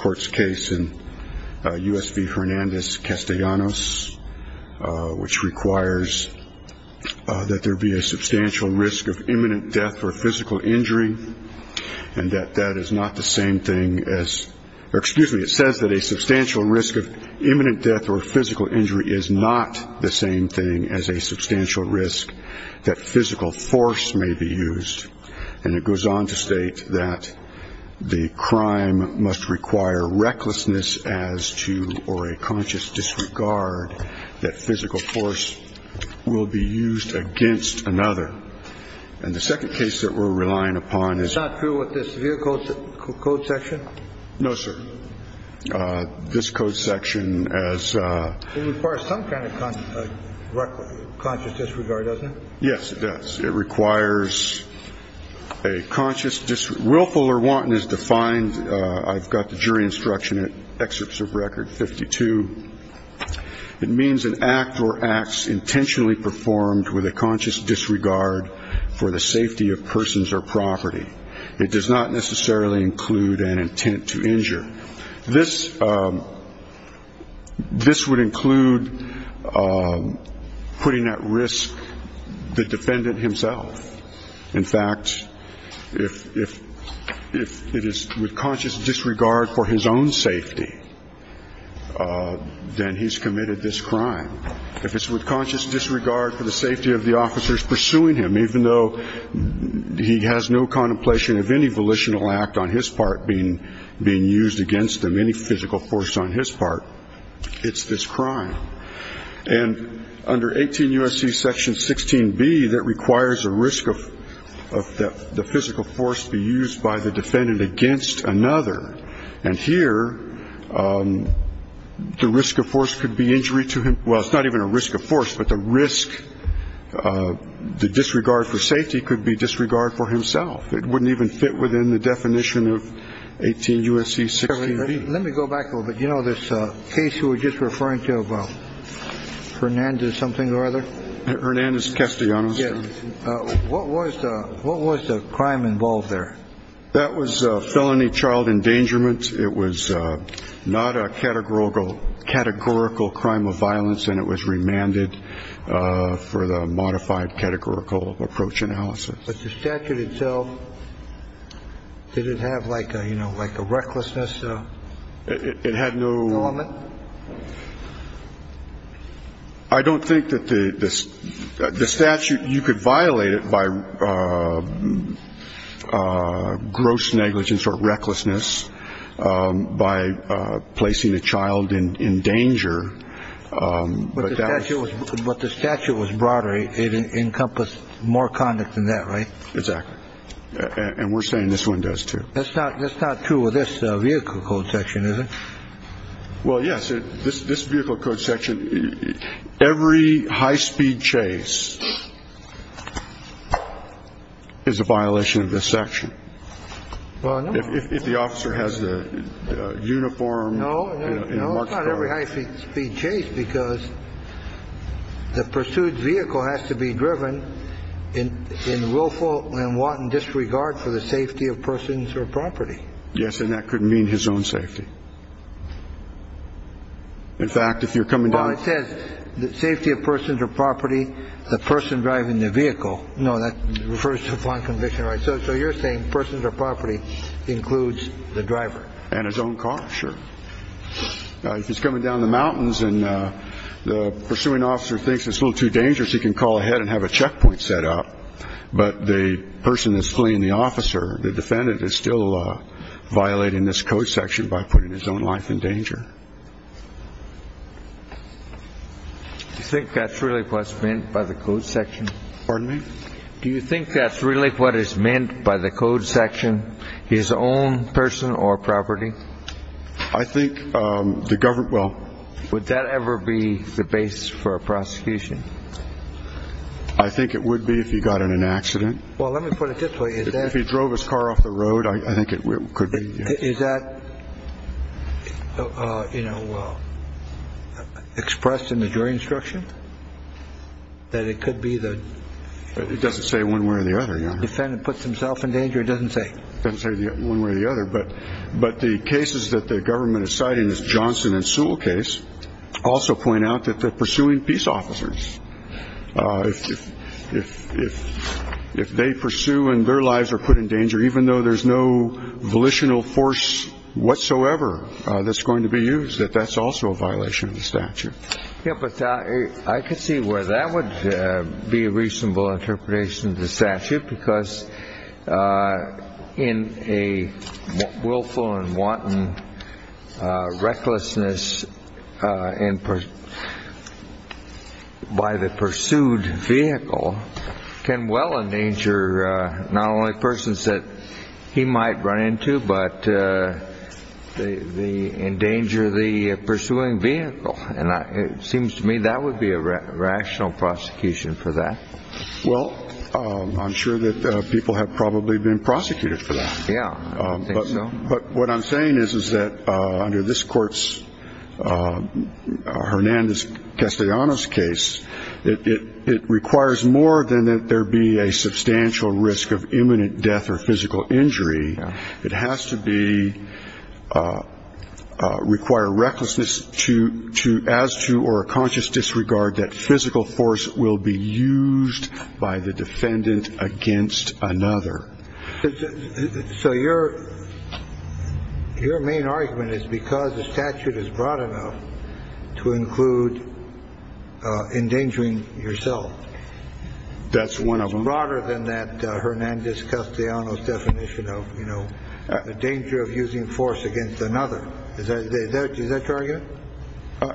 court's case in U.S. v. Hernandez-Castellanos, which requires that there be a substantial risk of imminent death or physical injury, and that that is not the same thing as, or excuse me, it says that a substantial risk of imminent death or physical injury is not the same thing as a substantial risk that physical force may be used. And it goes on to state that the crime must require recklessness as to, or a conscious disregard, that physical force will be used against another. And the second case that we're relying upon is... It's not true with this vehicle code section? No, sir. This code section as... It requires some kind of conscious disregard, doesn't it? Yes, it does. It requires a conscious disregard. Willful or wanton is defined, I've got the jury instruction in excerpts of record 52. It means an act or acts intentionally performed with a conscious disregard for the safety of persons or property. It does not necessarily include an intent to injure. This, this would include putting at risk the defendant himself. In fact, if it is with conscious disregard for his own safety, then he's committed this crime. If it's with conscious disregard for the safety of the officers pursuing him, even though he has no contemplation of any volitional act on his part being used against him, any physical force on his part, it's this crime. And under 18 U.S.C. section 16B, that requires a risk of the physical force be used by the defendant against another. And here, the risk of force could be injury to him. Well, it's not even a risk of force, but the risk, the disregard for safety could be disregard for himself. It wouldn't even fit within the definition of 18 U.S.C. 16B. Let me go back a little bit. You know, this case you were just referring to about Fernandez something or other. Hernandez Castellanos. Yes. What was what was the crime involved there? That was a felony child endangerment. It was not a categorical categorical crime of violence, and it was remanded for the modified categorical approach analysis. But the statute itself, did it have like a, you know, like a recklessness? It had no element. I don't think that the statute you could violate it by gross negligence or recklessness by placing a child in danger. But the statute was broader. It encompassed more conduct than that. Right. Exactly. And we're saying this one does, too. That's not that's not true of this vehicle code section, is it? Well, yes. This vehicle code section, every high speed chase is a violation of this section. Well, if the officer has the uniform. No, not every high speed chase, because the pursued vehicle has to be driven in in willful and wanton disregard for the safety of persons or property. Yes. And that could mean his own safety. In fact, if you're coming down, it says the safety of persons or property, the person driving the vehicle. No, that refers to one conviction. Right. So you're saying persons or property includes the driver and his own car. Sure. He's coming down the mountains and the pursuing officer thinks it's a little too dangerous. He can call ahead and have a checkpoint set up. But the person is fleeing the officer. The defendant is still violating this code section by putting his own life in danger. You think that's really what's meant by the code section? Pardon me? Do you think that's really what is meant by the code section? His own person or property? I think the government will. Would that ever be the base for a prosecution? I think it would be if he got in an accident. Well, let me put it this way. If he drove his car off the road, I think it could be. Is that, you know, expressed in the jury instruction that it could be that it doesn't say one way or the other. Yeah. Defendant puts himself in danger. It doesn't say one way or the other. But but the cases that the government is citing is Johnson and Sewell case. Also point out that they're pursuing peace officers. If if if they pursue and their lives are put in danger, even though there's no volitional force whatsoever that's going to be used, that that's also a violation of the statute. Yeah, but I could see where that would be a reasonable interpretation of the statute, because in a willful and wanton recklessness and by the pursued vehicle can well endanger not only persons that he might run into, but they endanger the pursuing vehicle. And it seems to me that would be a rational prosecution for that. Well, I'm sure that people have probably been prosecuted for that. Yeah. But what I'm saying is, is that under this court's Hernandez Castellanos case, it requires more than that. There be a substantial risk of imminent death or physical injury. It has to be require recklessness to to as to or a conscious disregard that physical force will be used by the defendant against another. So your your main argument is because the statute is broad enough to include endangering yourself. That's one of them broader than that. Hernandez Castellanos definition of, you know, the danger of using force against another. Is that that is that target?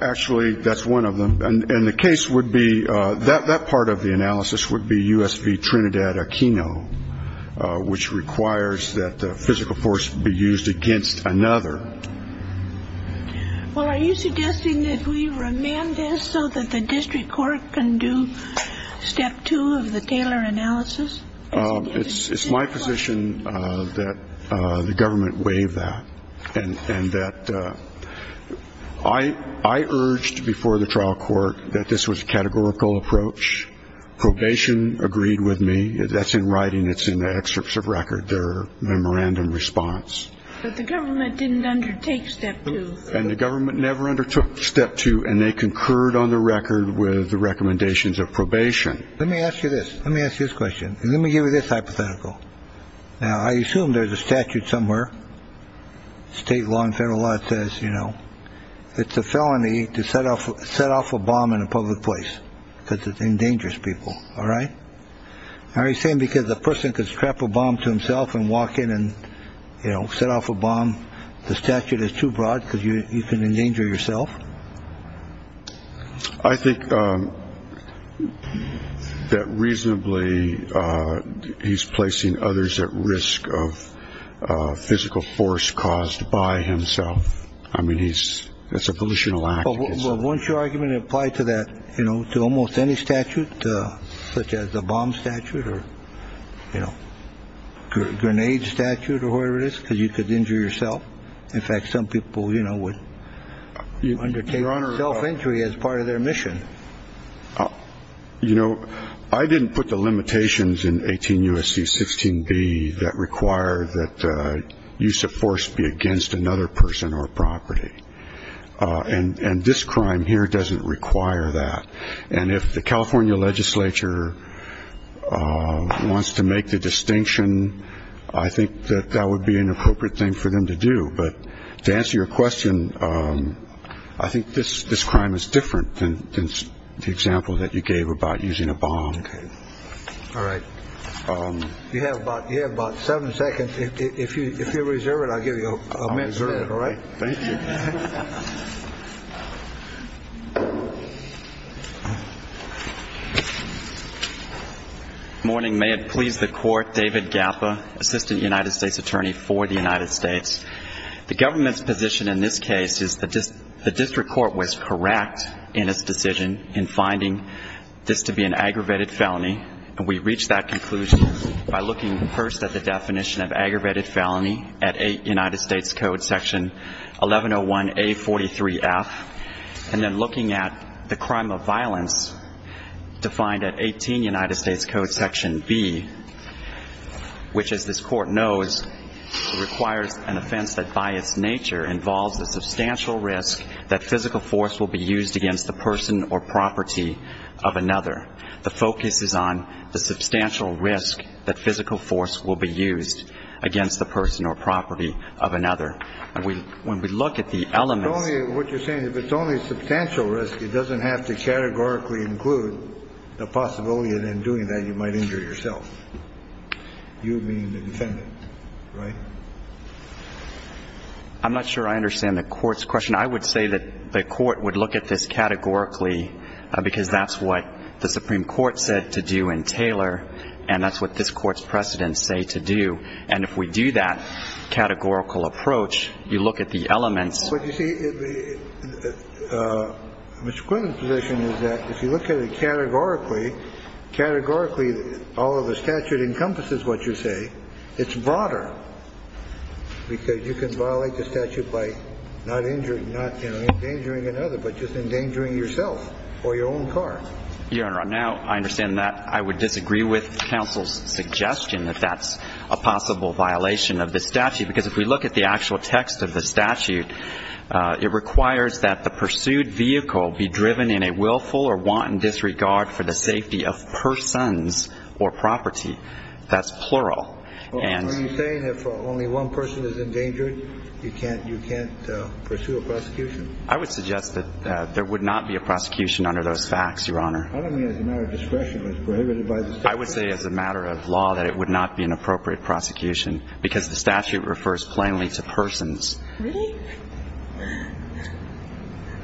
Actually, that's one of them. And the case would be that that part of the analysis would be U.S. V. Trinidad Aquino, which requires that the physical force be used against another. Well, are you suggesting that we remand this so that the district court can do step two of the Taylor analysis? It's my position that the government waive that. And that I I urged before the trial court that this was a categorical approach. Probation agreed with me. That's in writing. It's in the excerpts of record. Their memorandum response. But the government didn't undertake step two. And the government never undertook step two. And they concurred on the record with the recommendations of probation. Let me ask you this. Let me ask you this question. Let me give you this hypothetical. Now, I assume there's a statute somewhere. State law and federal law says, you know, it's a felony to set off, set off a bomb in a public place because it endangers people. All right. Are you saying because the person could strap a bomb to himself and walk in and, you know, set off a bomb? The statute is too broad because you can endanger yourself. I think that reasonably he's placing others at risk of physical force caused by himself. I mean, he's it's a pollution. Well, once your argument apply to that, you know, to almost any statute, such as the bomb statute or, you know, grenade statute or whatever it is, because you could injure yourself. In fact, some people, you know, would undertake self-injury as part of their mission. You know, I didn't put the limitations in 18 U.S.C. 16 B that require that use of force be against another person or property. And this crime here doesn't require that. And if the California legislature wants to make the distinction, I think that that would be an appropriate thing for them to do. But to answer your question, I think this this crime is different than the example that you gave about using a bomb. All right. You have about you have about seven seconds. If you if you reserve it, I'll give you a minute. All right. Thank you. Morning. May it please the court. David Gappa, assistant United States attorney for the United States. The government's position in this case is that the district court was correct in its decision in finding this to be an aggravated felony. And we reached that conclusion by looking first at the definition of aggravated felony at United States Code Section 1101 A 43 F and then looking at the crime of violence defined at 18 United States Code Section B, which is this court knows requires an offense that by its nature involves a substantial risk that physical force will be used against the person or property of another. The focus is on the substantial risk that physical force will be used against the person or property of another. And we when we look at the elements of what you're saying, if it's only substantial risk, it doesn't have to categorically include the possibility of them doing that. You might injure yourself. You mean the defendant. Right. I'm not sure I understand the court's question. I would say that the court would look at this categorically because that's what the Supreme Court said to do in Taylor. And that's what this court's precedents say to do. And if we do that categorical approach, you look at the elements. But you see, Mr. Quinn's position is that if you look at it categorically, categorically, all of the statute encompasses what you say. It's broader because you can violate the statute by not injuring, not endangering another, but just endangering yourself or your own car. Your Honor, now I understand that. I would disagree with counsel's suggestion that that's a possible violation of the statute, because if we look at the actual text of the statute, it requires that the pursued vehicle be driven in a willful or wanton disregard for the safety of persons or property. That's plural. Are you saying if only one person is endangered, you can't pursue a prosecution? I would suggest that there would not be a prosecution under those facts, Your Honor. I don't mean as a matter of discretion. It was prohibited by the statute. I would say as a matter of law that it would not be an appropriate prosecution because the statute refers plainly to persons. Really?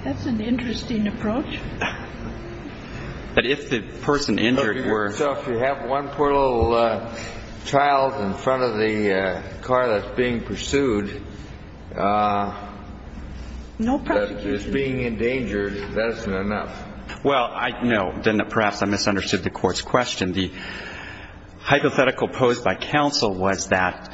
That's an interesting approach. So if you have one poor little child in front of the car that's being pursued that is being endangered, that isn't enough? Well, no. Perhaps I misunderstood the Court's question. The hypothetical posed by counsel was that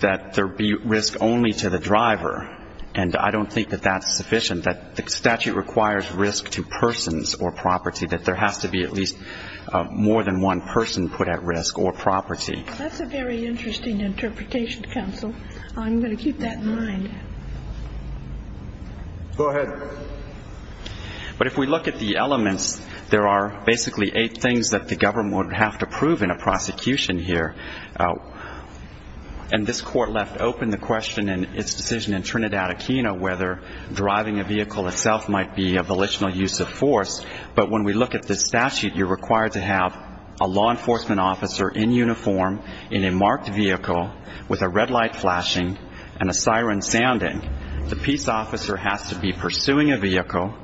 there be risk only to the driver, and I don't think that that's sufficient. The statute requires risk to persons or property, that there has to be at least more than one person put at risk or property. That's a very interesting interpretation, counsel. I'm going to keep that in mind. Go ahead. But if we look at the elements, there are basically eight things that the government would have to prove in a prosecution here, and this Court left open the question in its decision in Trinidad Aquino whether driving a vehicle itself might be a volitional use of force. But when we look at this statute, you're required to have a law enforcement officer in uniform, in a marked vehicle, with a red light flashing and a siren sounding. The peace officer has to be pursuing a vehicle.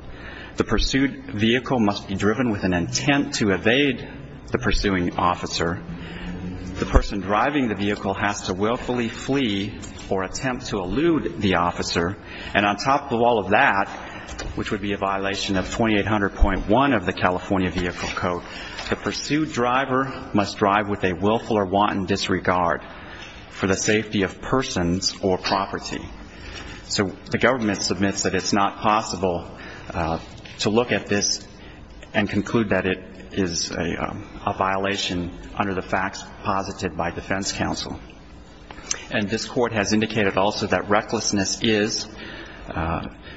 The pursued vehicle must be driven with an intent to evade the pursuing officer. The person driving the vehicle has to willfully flee or attempt to elude the officer. And on top of all of that, which would be a violation of 2800.1 of the California Vehicle Code, the pursued driver must drive with a willful or wanton disregard for the safety of persons or property. So the government submits that it's not possible to look at this and conclude that it is a violation under the facts posited by defense counsel. And this Court has indicated also that recklessness is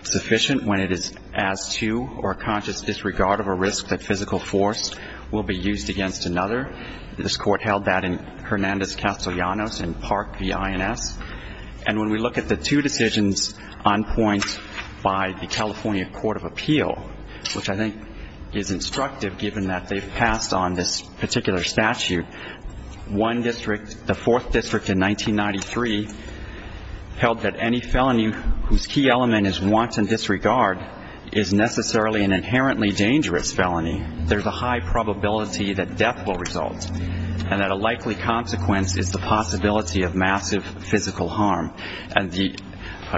sufficient when it is as to or a conscious disregard of a risk that physical force will be used against another. This Court held that in Hernandez Castellanos in Park v. INS. And when we look at the two decisions on point by the California Court of Appeal, which I think is instructive given that they've passed on this particular statute, one district, the fourth district in 1993, held that any felony whose key element is wanton disregard is necessarily an inherently dangerous felony. There's a high probability that death will result and that a likely consequence is the possibility of massive physical harm. And the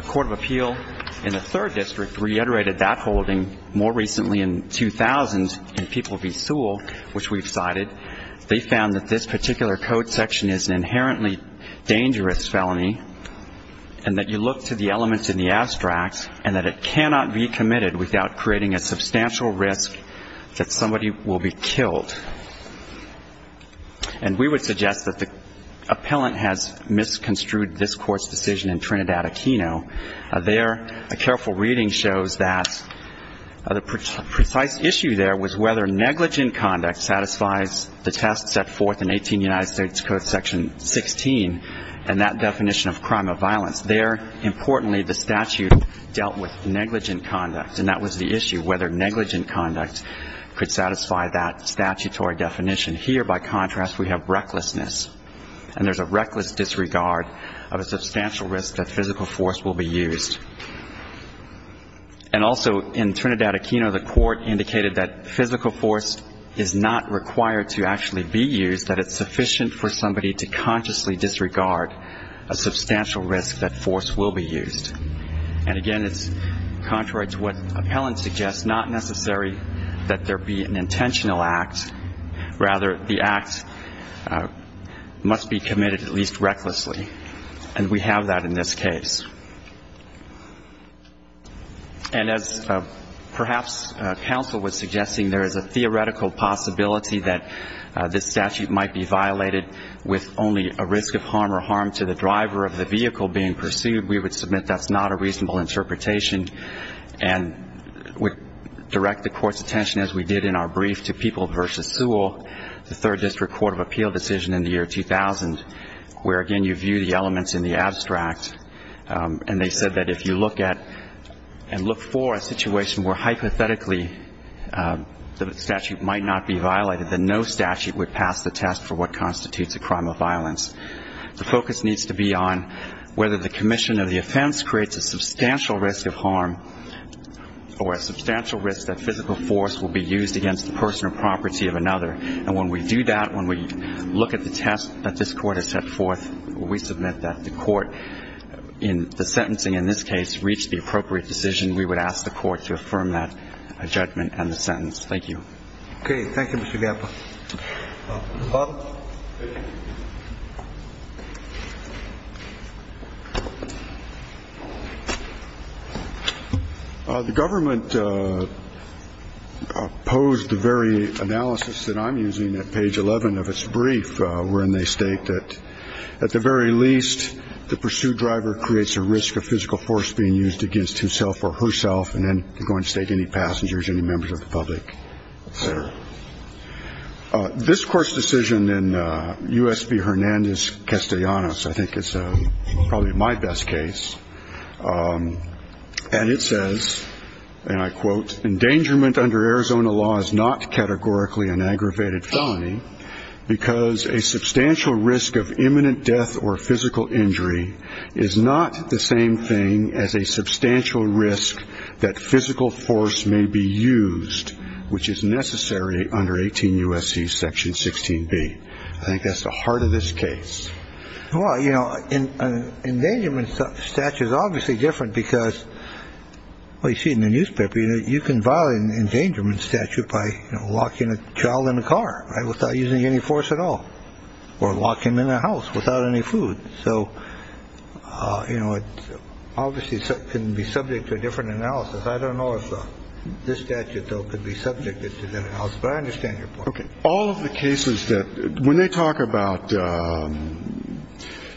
Court of Appeal in the third district reiterated that holding more recently in 2000 in Peoples v. Sewell, which we've cited. They found that this particular code section is an inherently dangerous felony and that you look to the elements in the abstract and that it cannot be committed without creating a substantial risk that somebody will be killed. And we would suggest that the appellant has misconstrued this Court's decision in Trinidad-Aquino. There, a careful reading shows that the precise issue there was whether negligent conduct satisfies the test set forth in 18 United States Code Section 16 and that definition of crime of violence. There, importantly, the statute dealt with negligent conduct, and that was the issue, whether negligent conduct could satisfy that statutory definition. Here, by contrast, we have recklessness, and there's a reckless disregard of a substantial risk that physical force will be used. And also in Trinidad-Aquino, the Court indicated that physical force is not required to actually be used, that it's sufficient for somebody to consciously disregard a substantial risk that force will be used. And, again, it's contrary to what appellant suggests, not necessary that there be an intentional act. Rather, the act must be committed at least recklessly, and we have that in this case. And as perhaps counsel was suggesting, there is a theoretical possibility that this statute might be violated with only a risk of harm or harm to the driver of the vehicle being pursued. We would submit that's not a reasonable interpretation and would direct the Court's attention, as we did in our brief, to People v. Sewell, the Third District Court of Appeal decision in the year 2000, where, again, you view the elements in the abstract. And they said that if you look at and look for a situation where hypothetically the statute might not be violated, then no statute would pass the test for what constitutes a crime of violence. The focus needs to be on whether the commission of the offense creates a substantial risk of harm or a substantial risk that physical force will be used against the person or property of another. And when we do that, when we look at the test that this Court has set forth, we submit that the Court in the sentencing in this case reached the appropriate decision. We would ask the Court to affirm that judgment and the sentence. Thank you. Okay. Thank you, Mr. Gappa. Bob? The government opposed the very analysis that I'm using at page 11 of its brief, wherein they state that, at the very least, the pursued driver creates a risk of physical force being used against himself or herself, and then going to take any passengers, any members of the public, et cetera. This Court's decision in U.S. v. Hernandez-Castellanos, I think it's probably my best case, and it says, and I quote, endangerment under Arizona law is not categorically an aggravated felony because a substantial risk of imminent death or physical injury is not the same thing as a substantial risk that physical force may be used, which is necessary under 18 U.S.C. Section 16B. I think that's the heart of this case. Well, you know, an endangerment statute is obviously different because, well, you see in the newspaper, you can violate an endangerment statute by locking a child in a car without using any force at all or locking them in a house without any food. So, you know, it obviously can be subject to a different analysis. I don't know if this statute, though, could be subjected to that analysis. But I understand your point. Okay. All of the cases that when they talk about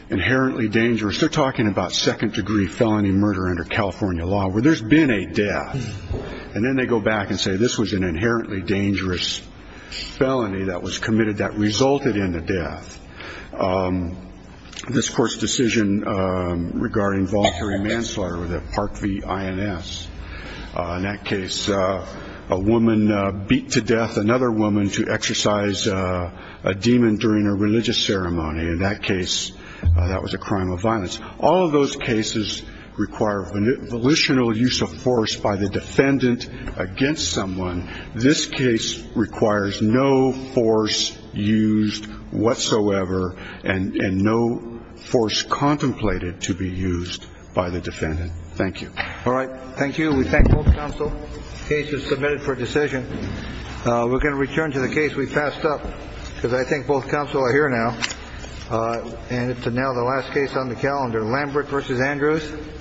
inherently dangerous, they're talking about second degree felony murder under California law where there's been a death. And then they go back and say this was an inherently dangerous felony that was committed that resulted in the death. This court's decision regarding voluntary manslaughter with a Park v. INS. In that case, a woman beat to death another woman to exercise a demon during a religious ceremony. In that case, that was a crime of violence. All of those cases require volitional use of force by the defendant against someone. This case requires no force used whatsoever and no force contemplated to be used by the defendant. Thank you. All right. Thank you. We thank both counsel. The case is submitted for decision. We're going to return to the case we passed up because I think both counsel are here now. And it's now the last case on the calendar. Lambert v. Andrews.